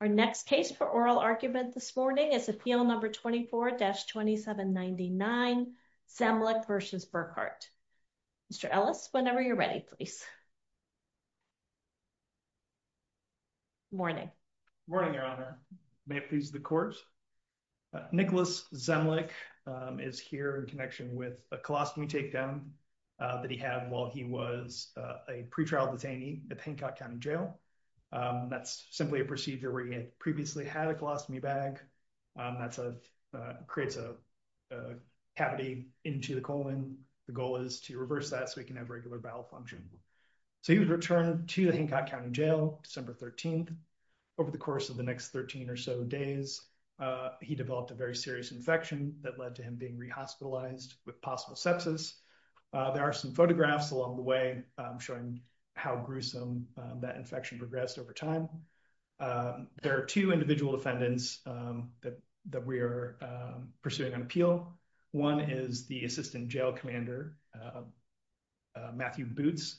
Our next case for oral argument this morning is appeal number 24-2799 Zemlick v. Burkhart. Mr. Ellis, whenever you're ready, please. Zemlick v. Burkhart Good morning. So he was returned to the Hancock County Jail December 13th. Over the course of the next 13 or so days, he developed a very serious infection that led to him being re-hospitalized with possible sepsis. There are some photographs along the way showing how gruesome that infection progressed over time. There are two individual defendants that we are pursuing on appeal. One is the assistant jail commander, Matthew Boots.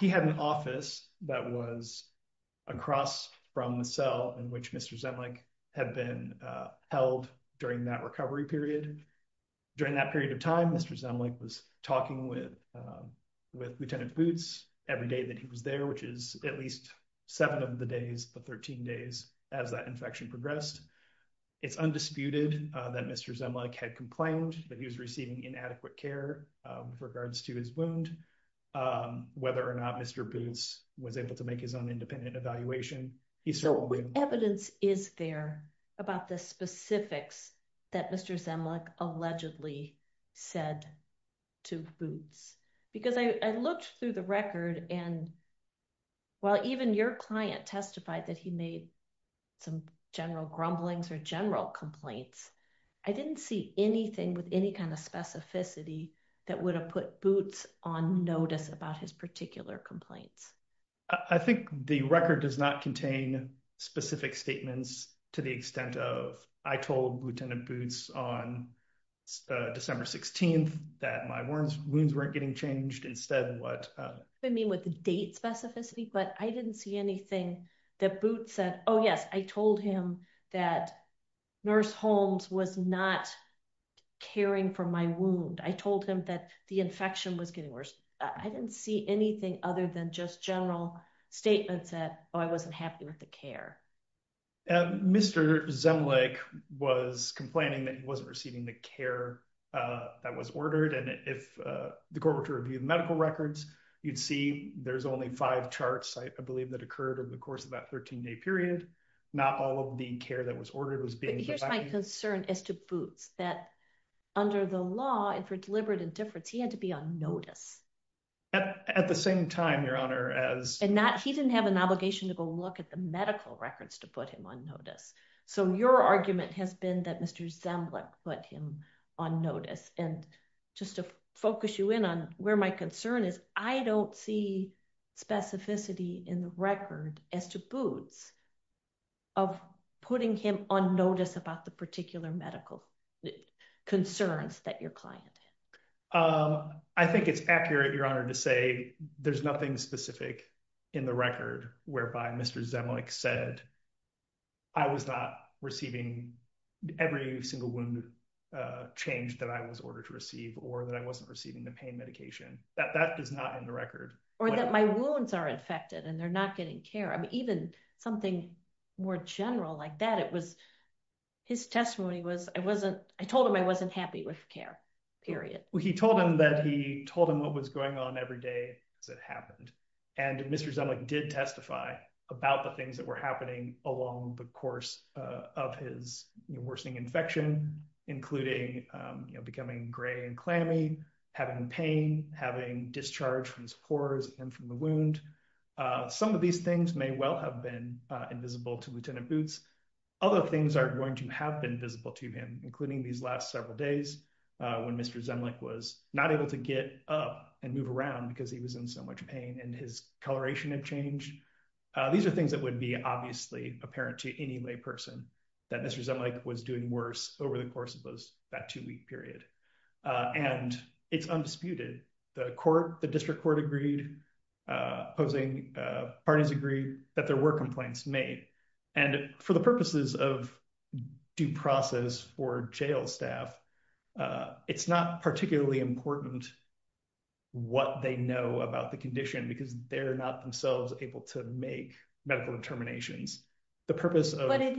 He had an office that was across from the cell in which Mr. Zemlick had been held during that recovery period. During that period of time, Mr. Zemlick was talking with Lieutenant Boots every day that he was there, which is at least seven of the days, the 13 days, as that infection progressed. It's undisputed that Mr. Zemlick had complained that he was receiving inadequate care with regards to his wound, whether or not Mr. Boots was able to make his own independent evaluation. Evidence is there about the specifics that Mr. Zemlick allegedly said to Boots? Because I looked through the record and while even your client testified that he made some general grumblings or general complaints, I didn't see anything with any kind of specificity that would have put Boots on notice about his particular complaints. I think the record does not contain specific statements to the extent of, I told Lieutenant Boots on December 16th that my wounds weren't getting changed. I mean with the date specificity, but I didn't see anything that Boots said, oh yes, I told him that Nurse Holmes was not caring for my wound. I told him that the infection was getting worse. I didn't see anything other than just general statements that I wasn't happy with the care. Mr. Zemlick was complaining that he wasn't receiving the care that was ordered. And if the Corporate Review of Medical Records, you'd see there's only five charts, I believe that occurred over the course of that 13 day period. Not all of the care that was ordered was being provided. Here's my concern as to Boots, that under the law and for deliberate indifference, he had to be on notice. At the same time, Your Honor, as... He didn't have an obligation to go look at the medical records to put him on notice. So your argument has been that Mr. Zemlick put him on notice. And just to focus you in on where my concern is, I don't see specificity in the record as to Boots of putting him on notice about the particular medical concerns that your client had. I think it's accurate, Your Honor, to say there's nothing specific in the record whereby Mr. Zemlick said I was not receiving every single wound change that I was ordered to receive or that I wasn't receiving the pain medication. That does not end the record. Or that my wounds are infected and they're not getting care. I mean, even something more general like that. It was his testimony was I wasn't, I told him I wasn't happy with care, period. He told him that he told him what was going on every day as it happened. And Mr. Zemlick did testify about the things that were happening along the course of his worsening infection, including becoming gray and clammy, having pain, having discharge from his pores and from the wound. Some of these things may well have been invisible to Lieutenant Boots. Other things are going to have been visible to him, including these last several days when Mr. Zemlick was not able to get up and move around because he was in so much pain and his coloration had changed. These are things that would be obviously apparent to any lay person that Mr. Zemlick was doing worse over the course of those, that two week period. And it's undisputed, the court, the district court agreed, opposing parties agree that there were complaints made. And for the purposes of due process for jail staff, it's not particularly important what they know about the condition because they're not themselves able to make medical determinations. The purpose of- It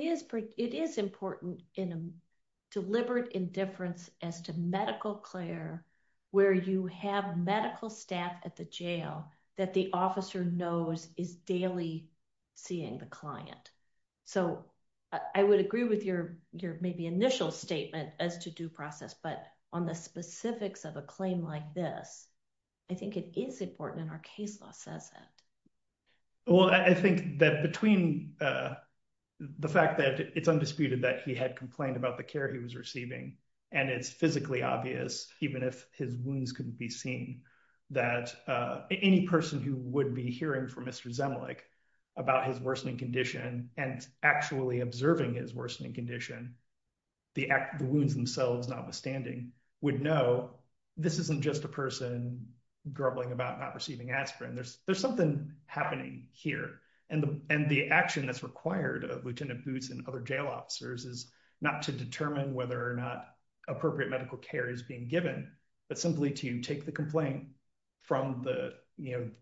is important in a deliberate indifference as to medical clear where you have medical staff at the jail that the officer knows is daily seeing the client. So I would agree with your maybe initial statement as to due process, but on the specifics of a claim like this, I think it is important and our case law says that. Well, I think that between the fact that it's undisputed that he had complained about the care he was receiving and it's physically obvious, even if his wounds couldn't be seen, that any person who would be hearing from Mr. Zemlick about his worsening condition and actually observing his worsening condition, the wounds themselves, notwithstanding, would know this isn't just a person grumbling about not receiving aspirin. There's something happening here. And the action that's required of Lieutenant Boots and other jail officers is not to determine whether or not appropriate medical care is being given, but simply to take the complaint from the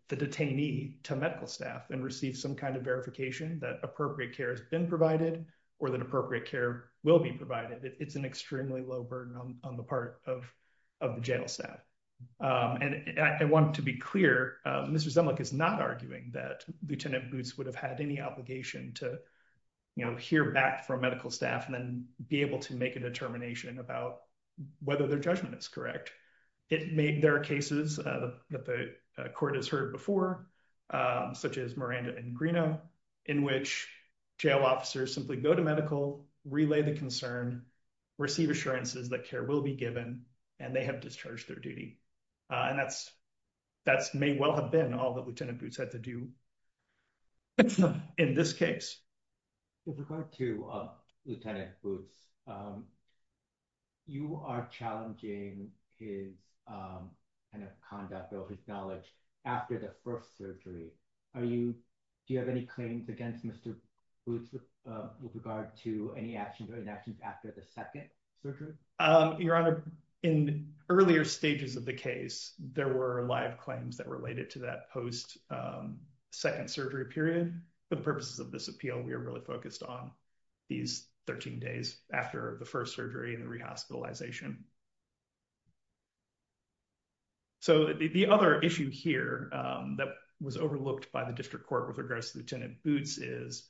detainee to medical staff and receive some kind of verification that appropriate care has been provided or that appropriate care will be provided. It's an extremely low burden on the part of the jail staff. And I want to be clear, Mr. Zemlick is not arguing that Lieutenant Boots would have had any obligation to, you know, hear back from medical staff and then be able to make a determination about whether their judgment is correct. It made their cases that the court has heard before, such as Miranda and Greenough, in which jail officers simply go to medical, relay the concern, receive assurances that care will be given, and they have discharged their duty. And that may well have been all that Lieutenant Boots had to do in this case. With regard to Lieutenant Boots, you are challenging his conduct or his knowledge after the first surgery. Do you have any claims against Mr. Boots with regard to any actions or inactions after the second surgery? Your Honor, in earlier stages of the case, there were live claims that related to that post-second surgery period. For the purposes of this appeal, we are really focused on these 13 days after the first surgery and the rehospitalization. So the other issue here that was overlooked by the district court with regards to Lieutenant Boots is,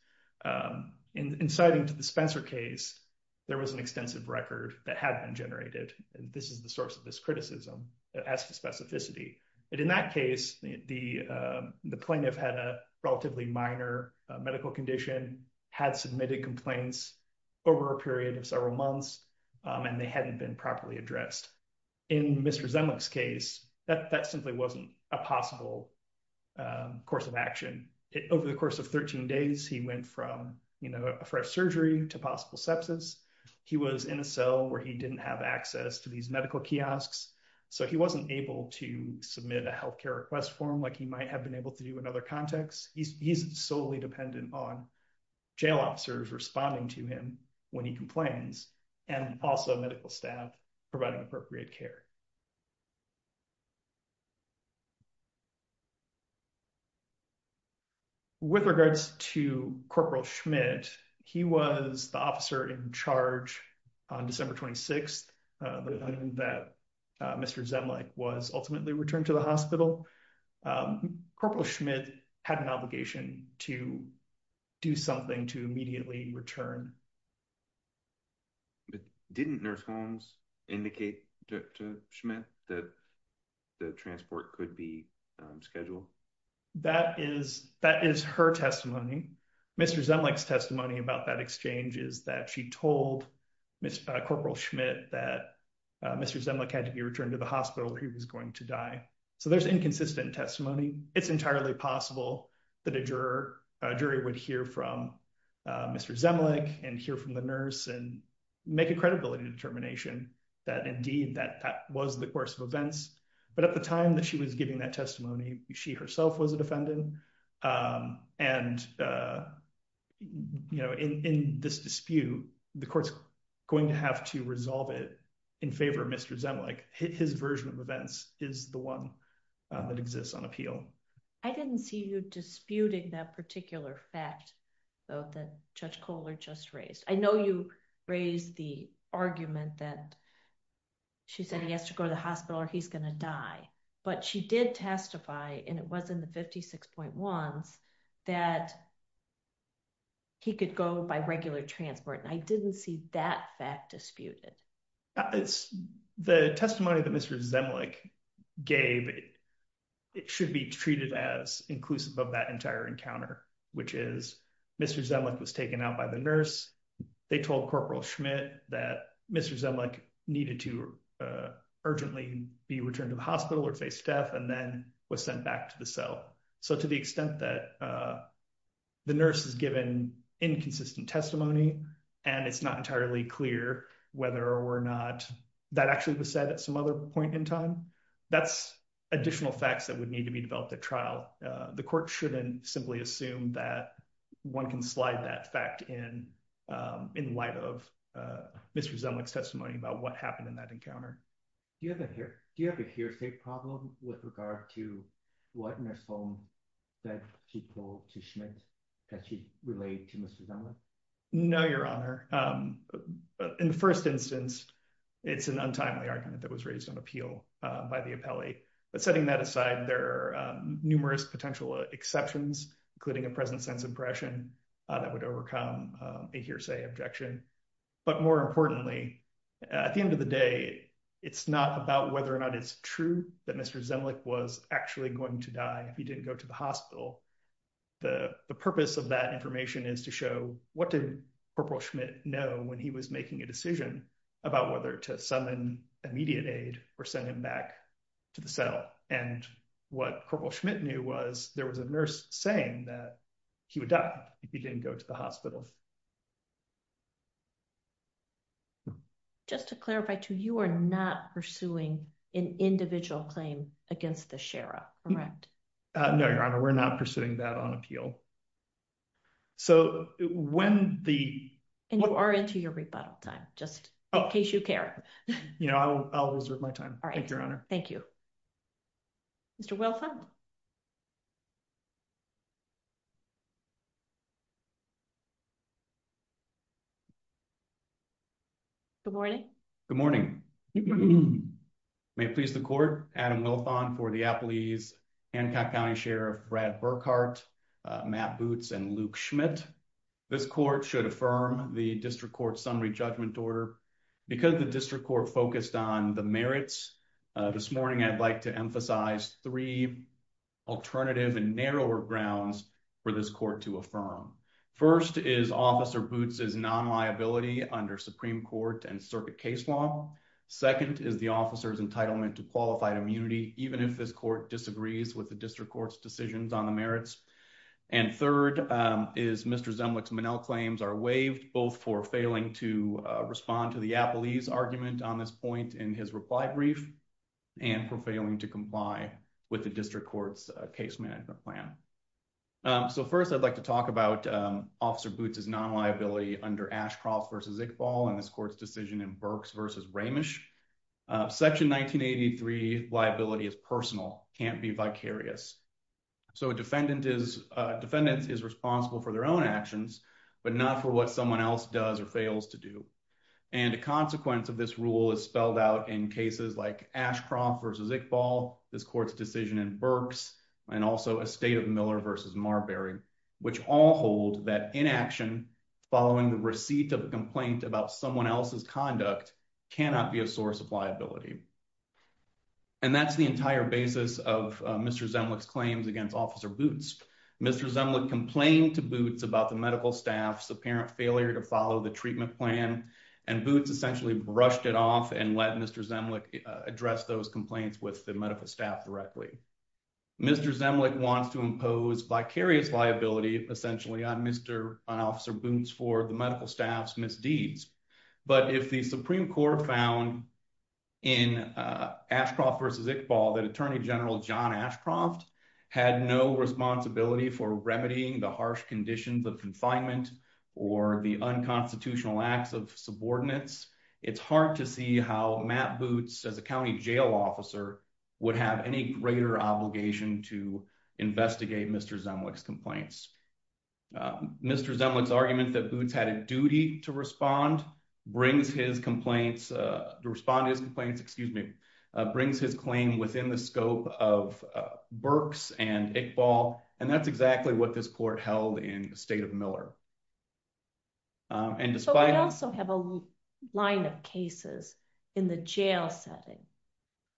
in citing to the Spencer case, there was an extensive record that had been generated. And this is the source of this criticism as to specificity. In that case, the plaintiff had a relatively minor medical condition, had submitted complaints over a period of several months, and they hadn't been properly addressed. In Mr. Zemlich's case, that simply wasn't a possible course of action. Over the course of 13 days, he went from a fresh surgery to possible sepsis. He was in a cell where he didn't have access to these medical kiosks, so he wasn't able to submit a health care request form like he might have been able to do in other contexts. He's solely dependent on jail officers responding to him when he complains, and also medical staff providing appropriate care. With regards to Corporal Schmidt, he was the officer in charge on December 26th, the day that Mr. Zemlich was ultimately returned to the hospital. Corporal Schmidt had an obligation to do something to immediately return. Didn't Nurse Holmes indicate to Schmidt that the transport could be scheduled? That is her testimony. Mr. Zemlich's testimony about that exchange is that she told Corporal Schmidt that Mr. Zemlich had to be returned to the hospital or he was going to die. So there's inconsistent testimony. It's entirely possible that a jury would hear from Mr. Zemlich and hear from the nurse and make a credibility determination that, indeed, that was the course of events. But at the time that she was giving that testimony, she herself was a defendant. And, you know, in this dispute, the court's going to have to resolve it in favor of Mr. Zemlich. His version of events is the one that exists on appeal. I didn't see you disputing that particular fact, though, that Judge Kohler just raised. I know you raised the argument that she said he has to go to the hospital or he's going to die. But she did testify, and it was in the 56.1s, that he could go by regular transport. And I didn't see that fact disputed. The testimony that Mr. Zemlich gave, it should be treated as inclusive of that entire encounter, which is Mr. Zemlich was taken out by the nurse. They told Corporal Schmidt that Mr. Zemlich needed to urgently be returned to the hospital or face death and then was sent back to the cell. So to the extent that the nurse is given inconsistent testimony and it's not entirely clear whether or not that actually was said at some other point in time, that's additional facts that would need to be developed at trial. The court shouldn't simply assume that one can slide that fact in light of Mr. Zemlich's testimony about what happened in that encounter. Do you have a hearsay problem with regard to what nurse Holm said she told to Schmidt that she relayed to Mr. Zemlich? No, Your Honor. In the first instance, it's an untimely argument that was raised on appeal by the appellee. But setting that aside, there are numerous potential exceptions, including a present sense impression that would overcome a hearsay objection. But more importantly, at the end of the day, it's not about whether or not it's true that Mr. Zemlich was actually going to die if he didn't go to the hospital. The purpose of that information is to show what did Corporal Schmidt know when he was making a decision about whether to summon immediate aid or send him back to the cell. And what Corporal Schmidt knew was there was a nurse saying that he would die if he didn't go to the hospital. Just to clarify too, you are not pursuing an individual claim against the sheriff, correct? No, Your Honor. We're not pursuing that on appeal. And you are into your rebuttal time, just in case you care. I'll reserve my time. Thank you, Your Honor. Thank you. Mr. Wilthon. Good morning. Good morning. May it please the court, Adam Wilthon for the appellees, Hancock County Sheriff Brad Burkhart, Matt Boots, and Luke Schmidt. This court should affirm the district court summary judgment order. Because the district court focused on the merits, this morning I'd like to emphasize three alternative and narrower grounds for this court to affirm. First is Officer Boots' non-liability under Supreme Court and circuit case law. Second is the officer's entitlement to qualified immunity, even if this court disagrees with the district court's decisions on the merits. And third is Mr. Zemlich's Monell claims are waived, both for failing to respond to the appellee's argument on this point in his reply brief, and for failing to comply with the district court's case management plan. So first I'd like to talk about Officer Boots' non-liability under Ashcroft v. Iqbal and this court's decision in Burks v. Ramish. Section 1983 liability is personal, can't be vicarious. So a defendant is responsible for their own actions, but not for what someone else does or fails to do. And a consequence of this rule is spelled out in cases like Ashcroft v. Iqbal, this court's decision in Burks, and also Estate of Miller v. Marbury, which all hold that inaction following the receipt of a complaint about someone else's conduct cannot be a source of liability. And that's the entire basis of Mr. Zemlich's claims against Officer Boots. Mr. Zemlich complained to Boots about the medical staff's apparent failure to follow the treatment plan, and Boots essentially brushed it off and let Mr. Zemlich address those complaints with the medical staff directly. Mr. Zemlich wants to impose vicarious liability, essentially, on Officer Boots for the medical staff's misdeeds. But if the Supreme Court found in Ashcroft v. Iqbal that Attorney General John Ashcroft had no responsibility for remedying the harsh conditions of confinement or the unconstitutional acts of subordinates, it's hard to see how Matt Boots, as a county jail officer, would have any greater obligation to investigate Mr. Zemlich's complaints. Mr. Zemlich's argument that Boots had a duty to respond to his complaints brings his claim within the scope of Burks and Iqbal, and that's exactly what this court held in Estate of Miller. But we also have a line of cases in the jail setting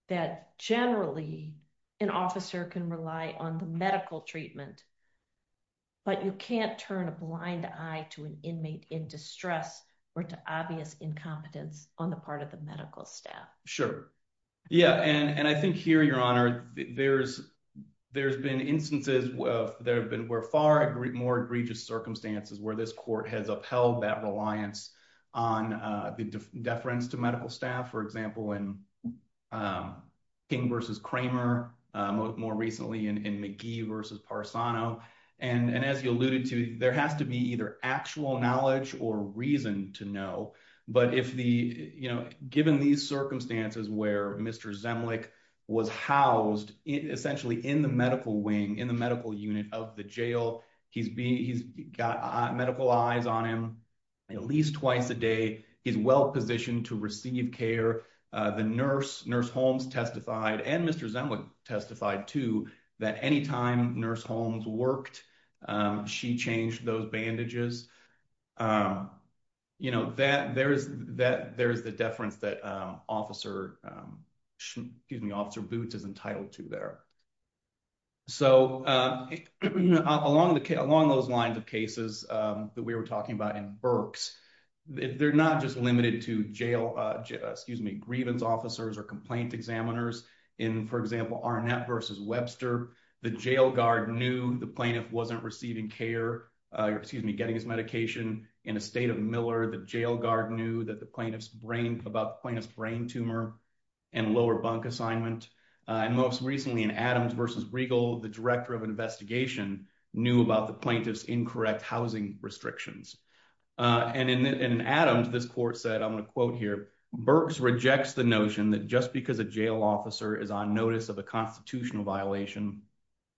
that generally an officer can rely on the medical treatment, but you can't turn a blind eye to an inmate in distress or to obvious incompetence on the part of the medical staff. Sure. Yeah, and I think here, Your Honor, there's been instances where far more egregious circumstances where this court has upheld that reliance on the deference to medical staff. For example, in King v. Kramer, more recently in McGee v. Parsano. And as you alluded to, there has to be either actual knowledge or reason to know. But if the, you know, given these circumstances where Mr. Zemlich was housed essentially in the medical wing, in the medical unit of the jail, he's got medical eyes on him at least twice a day. He's well positioned to receive care. The nurse, Nurse Holmes, testified and Mr. Zemlich testified, too, that any time Nurse Holmes worked, she changed those bandages. You know, there is the deference that Officer Boots is entitled to there. So along those lines of cases that we were talking about in Berks, they're not just limited to jail, excuse me, grievance officers or complaint examiners. In, for example, Arnett v. Webster, the jail guard knew the plaintiff wasn't receiving care, excuse me, getting his medication. In the state of Miller, the jail guard knew that the plaintiff's brain, about the plaintiff's brain tumor and lower bunk assignment. And most recently in Adams v. Regal, the director of investigation knew about the plaintiff's incorrect housing restrictions. And in Adams, this court said, I'm going to quote here, Berks rejects the notion that just because a jail officer is on notice of a constitutional violation,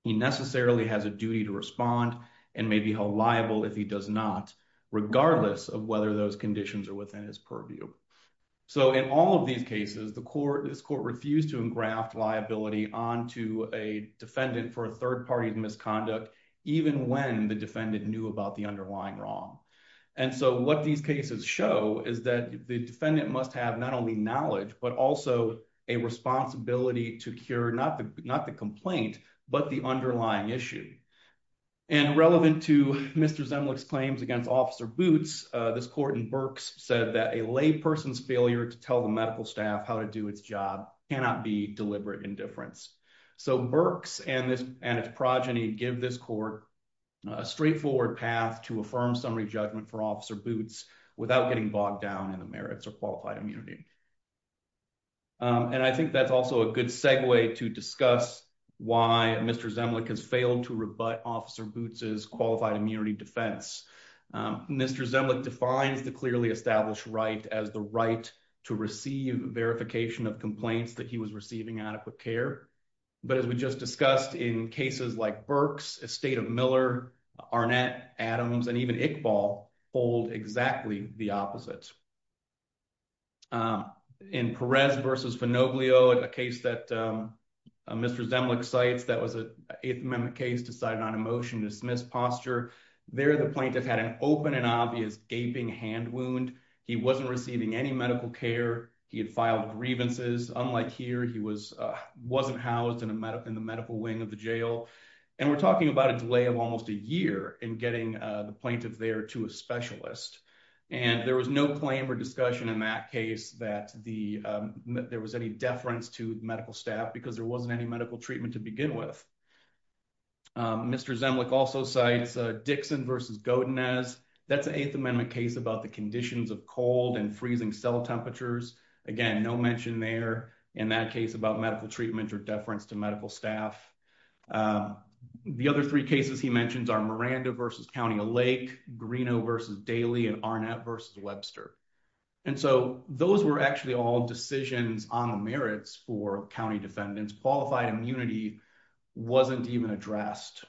he necessarily has a duty to respond and may be held liable if he does not, regardless of whether those conditions are within his purview. So in all of these cases, the court, this court refused to engraft liability onto a defendant for a third party misconduct, even when the defendant knew about the underlying wrong. And so what these cases show is that the defendant must have not only knowledge, but also a responsibility to cure not the not the complaint, but the underlying issue. And relevant to Mr. Zemlich's claims against Officer Boots, this court in Berks said that a lay person's failure to tell the medical staff how to do its job cannot be deliberate indifference. So Berks and this and its progeny give this court a straightforward path to affirm summary judgment for Officer Boots without getting bogged down in the merits of qualified immunity. And I think that's also a good segue to discuss why Mr. Zemlich has failed to rebut Officer Boots's qualified immunity defense. Mr. Zemlich defines the clearly established right as the right to receive verification of complaints that he was receiving adequate care. But as we just discussed in cases like Berks, Estate of Miller, Arnett, Adams and even Iqbal, hold exactly the opposite. In Perez versus Fanoblio, a case that Mr. Zemlich cites, that was an Eighth Amendment case decided on a motion to dismiss posture. There, the plaintiff had an open and obvious gaping hand wound. He wasn't receiving any medical care. He had filed grievances. Unlike here, he wasn't housed in the medical wing of the jail. And we're talking about a delay of almost a year in getting the plaintiff there to a specialist. And there was no claim or discussion in that case that there was any deference to medical staff because there wasn't any medical treatment to begin with. Mr. Zemlich also cites Dixon versus Godinez. That's an Eighth Amendment case about the conditions of cold and freezing cell temperatures. Again, no mention there in that case about medical treatment or deference to medical staff. The other three cases he mentions are Miranda versus County of Lake, Greeno versus Daly and Arnett versus Webster. And so those were actually all decisions on the merits for county defendants. Qualified immunity wasn't even addressed.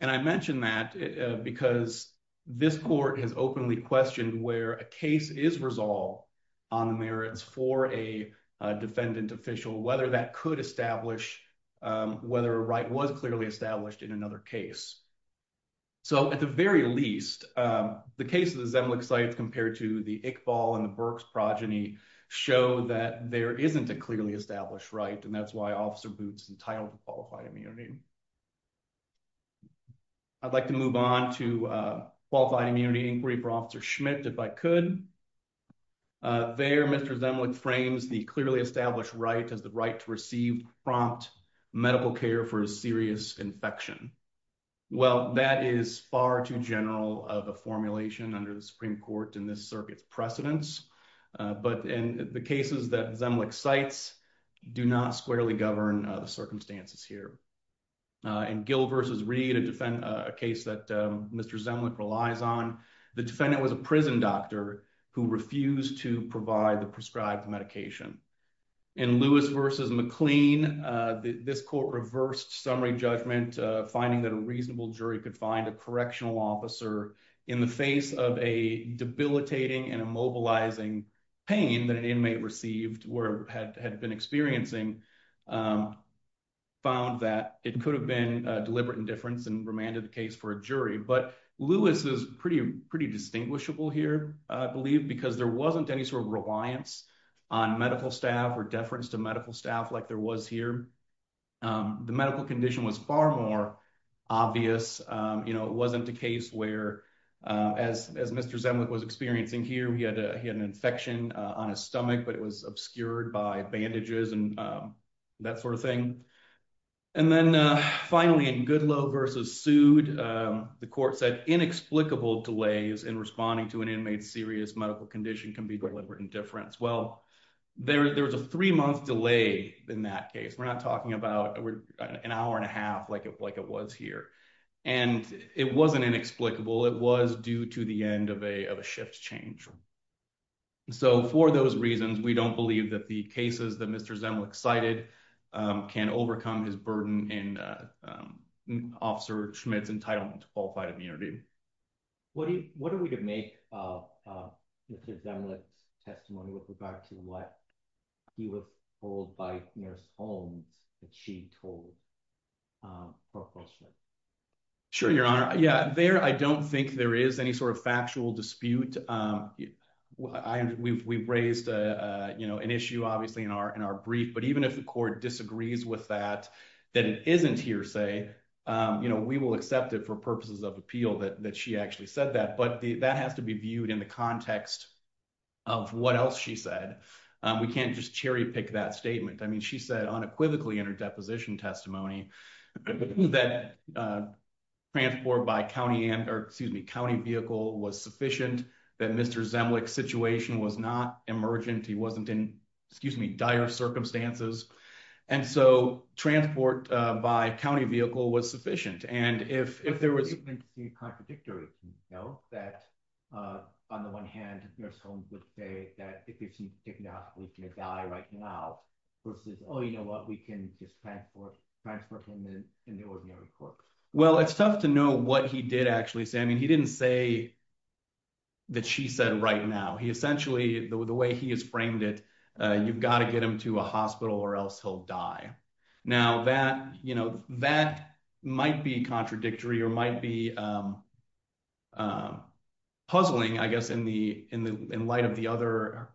And I mention that because this court has openly questioned where a case is resolved on the merits for a defendant official, whether that could establish whether a right was clearly established in another case. So, at the very least, the cases Zemlich cites compared to the Iqbal and the Burks progeny show that there isn't a clearly established right. And that's why Officer Boots is entitled to qualified immunity. I'd like to move on to qualified immunity inquiry for Officer Schmidt, if I could. There, Mr. Zemlich frames the clearly established right as the right to receive prompt medical care for a serious infection. Well, that is far too general of a formulation under the Supreme Court in this circuit's precedence. But in the cases that Zemlich cites do not squarely govern the circumstances here. In Gill versus Reed, a case that Mr. Zemlich relies on, the defendant was a prison doctor who refused to provide the prescribed medication. In Lewis versus McLean, this court reversed summary judgment, finding that a reasonable jury could find a correctional officer in the face of a debilitating and immobilizing pain that an inmate received or had been experiencing, found that it could have been deliberate indifference and remanded the case for a jury. But Lewis is pretty distinguishable here, I believe, because there wasn't any sort of reliance on medical staff or deference to medical staff like there was here. The medical condition was far more obvious. You know, it wasn't a case where, as Mr. Zemlich was experiencing here, he had an infection on his stomach, but it was obscured by bandages and that sort of thing. And then finally, in Goodloe versus Sood, the court said inexplicable delays in responding to an inmate's serious medical condition can be deliberate indifference. Well, there was a three month delay in that case. We're not talking about an hour and a half like it was here. And it wasn't inexplicable. It was due to the end of a shift change. So for those reasons, we don't believe that the cases that Mr. Zemlich cited can overcome his burden in Officer Schmidt's entitlement to qualified immunity. What are we to make of Mr. Zemlich's testimony with regard to what he was told by Nurse Holmes that she told Professor Schmidt? Sure, Your Honor. Yeah, there I don't think there is any sort of factual dispute. We've raised an issue, obviously, in our brief, but even if the court disagrees with that, that it isn't hearsay, we will accept it for purposes of appeal that she actually said that. But that has to be viewed in the context of what else she said. We can't just cherry pick that statement. I mean, she said unequivocally in her deposition testimony that transport by county vehicle was sufficient, that Mr. Zemlich's situation was not emergent. He wasn't in, excuse me, dire circumstances. And so transport by county vehicle was sufficient. It would seem contradictory, you know, that on the one hand, Nurse Holmes would say that if he's diagnosed, we can die right now, versus, oh, you know what, we can just transport him in the ordinary court. I don't think that that might be contradictory or might be puzzling, I guess, in light of the other,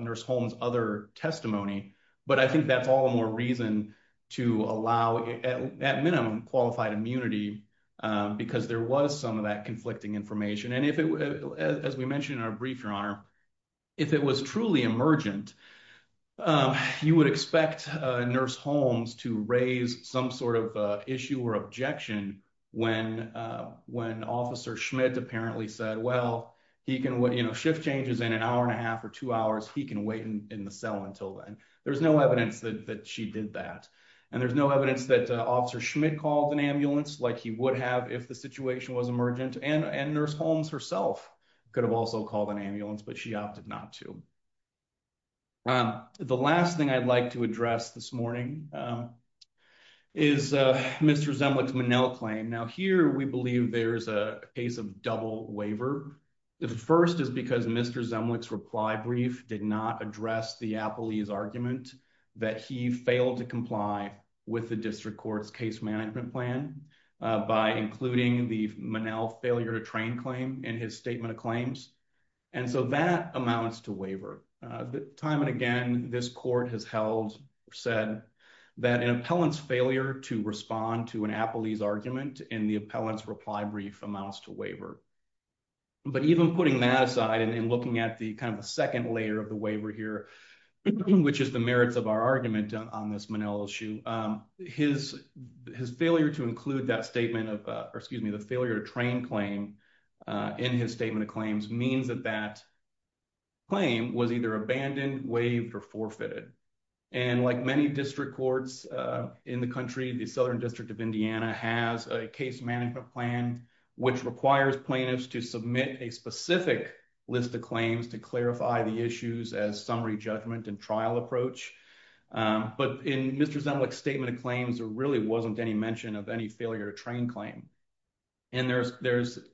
Nurse Holmes' other testimony. But I think that's all the more reason to allow, at minimum, qualified immunity, because there was some of that conflicting information. And as we mentioned in our brief, Your Honor, if it was truly emergent, you would expect Nurse Holmes to raise some sort of issue or objection when Officer Schmidt apparently said, well, he can, you know, shift changes in an hour and a half or two hours, he can wait in the cell until then. There's no evidence that she did that. And there's no evidence that Officer Schmidt called an ambulance like he would have if the situation was emergent. And Nurse Holmes herself could have also called an ambulance, but she opted not to. The last thing I'd like to address this morning is Mr. Zemlich's Monell claim. Now, here we believe there's a case of double waiver. The first is because Mr. Zemlich's reply brief did not address the appellee's argument that he failed to comply with the district court's case management plan by including the Monell failure to train claim in his statement of claims. And so that amounts to waiver. Time and again, this court has held or said that an appellant's failure to respond to an appellee's argument in the appellant's reply brief amounts to waiver. But even putting that aside and looking at the kind of the second layer of the waiver here, which is the merits of our argument on this Monell issue, his failure to include that statement of, or excuse me, the failure to train claim in his statement of claims means that that claim was either abandoned, waived, or forfeited. And like many district courts in the country, the Southern District of Indiana has a case management plan, which requires plaintiffs to submit a specific list of claims to clarify the issues as summary judgment and trial approach. But in Mr. Zemlich's statement of claims, there really wasn't any mention of any failure to train claim. And there's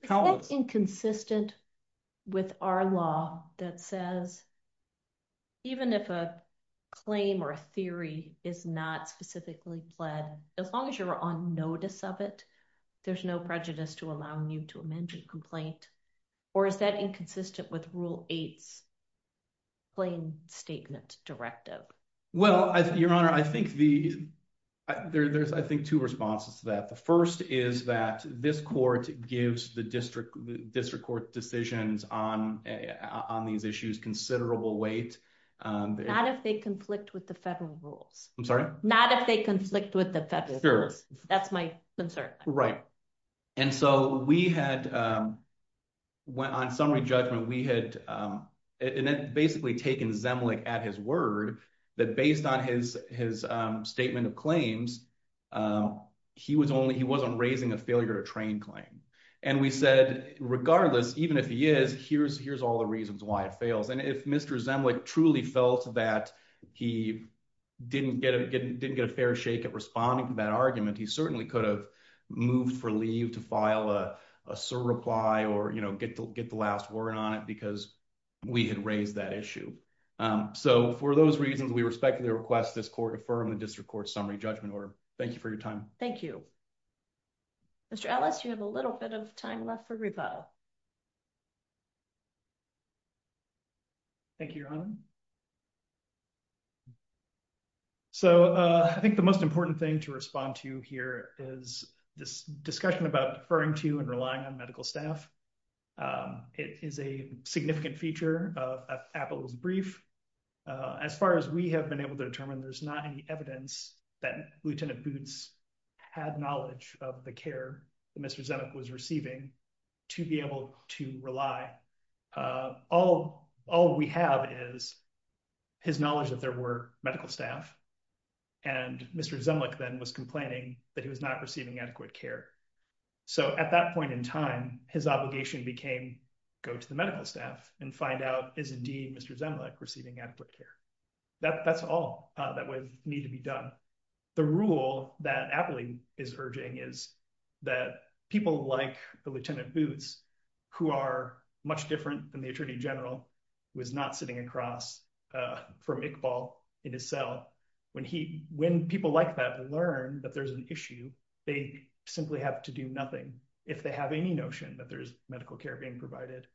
countless- Is that inconsistent with our law that says even if a claim or a theory is not specifically pled, as long as you're on notice of it, there's no prejudice to allowing you to amend your complaint? Or is that inconsistent with Rule 8's plain statement directive? Well, Your Honor, I think there's two responses to that. The first is that this court gives the district court decisions on these issues considerable weight. Not if they conflict with the federal rules. I'm sorry? Not if they conflict with the federal rules. That's my concern. Right. And so we had, on summary judgment, we had basically taken Zemlich at his word that based on his statement of claims, he wasn't raising a failure to train claim. And we said, regardless, even if he is, here's all the reasons why it fails. And if Mr. Zemlich truly felt that he didn't get a fair shake at responding to that argument, he certainly could have moved for leave to file a surreply or get the last word on it because we had raised that issue. So for those reasons, we respectfully request this court affirm the district court summary judgment order. Thank you for your time. Thank you. Mr. Ellis, you have a little bit of time left for rebuttal. Thank you, Your Honor. So I think the most important thing to respond to here is this discussion about referring to and relying on medical staff. It is a significant feature of Apple's brief. As far as we have been able to determine, there's not any evidence that Lieutenant Boots had knowledge of the care that Mr. Zemlich was receiving to be able to rely. All we have is his knowledge that there were medical staff and Mr. Zemlich then was complaining that he was not receiving adequate care. So at that point in time, his obligation became go to the medical staff and find out is indeed Mr. Zemlich receiving adequate care. That's all that would need to be done. The rule that Apple is urging is that people like the Lieutenant Boots, who are much different than the Attorney General, was not sitting across from Iqbal in his cell. When people like that learn that there's an issue, they simply have to do nothing if they have any notion that there's medical care being provided.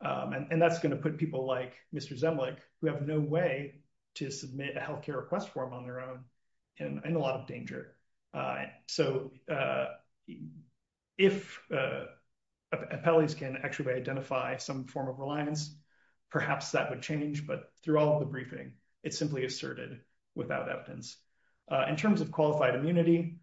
And that's going to put people like Mr. Zemlich, who have no way to submit a health care request form on their own, in a lot of danger. So if appellees can actually identify some form of reliance, perhaps that would change. But throughout the briefing, it's simply asserted without evidence. In terms of qualified immunity,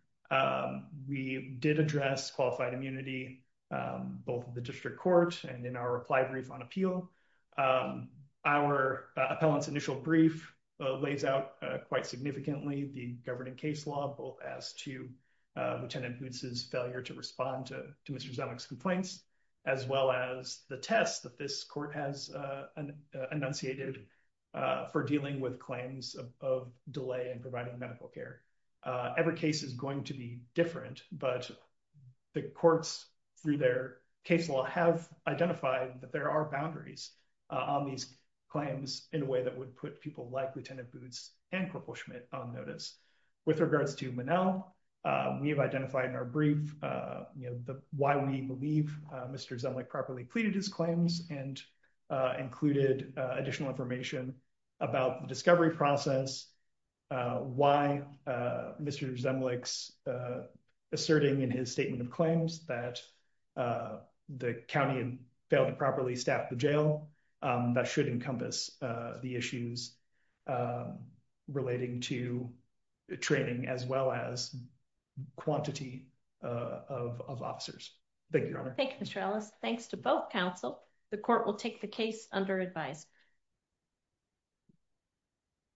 we did address qualified immunity, both the District Court and in our reply brief on appeal. Our appellant's initial brief lays out quite significantly the governing case law, both as to Lieutenant Boots' failure to respond to Mr. Zemlich's complaints, as well as the test that this court has enunciated for dealing with claims of delay in providing medical care. Every case is going to be different, but the courts, through their case law, have identified that there are boundaries on these claims in a way that would put people like Lieutenant Boots and Corporal Schmidt on notice. With regards to Monell, we have identified in our brief why we believe Mr. Zemlich properly pleaded his claims and included additional information about the discovery process, why Mr. Zemlich's asserting in his statement of claims that the county failed to properly staff the jail. That should encompass the issues relating to training as well as quantity of officers. Thank you, Your Honor. Thank you, Mr. Ellis. Thanks to both counsel. The court will take the case under advice.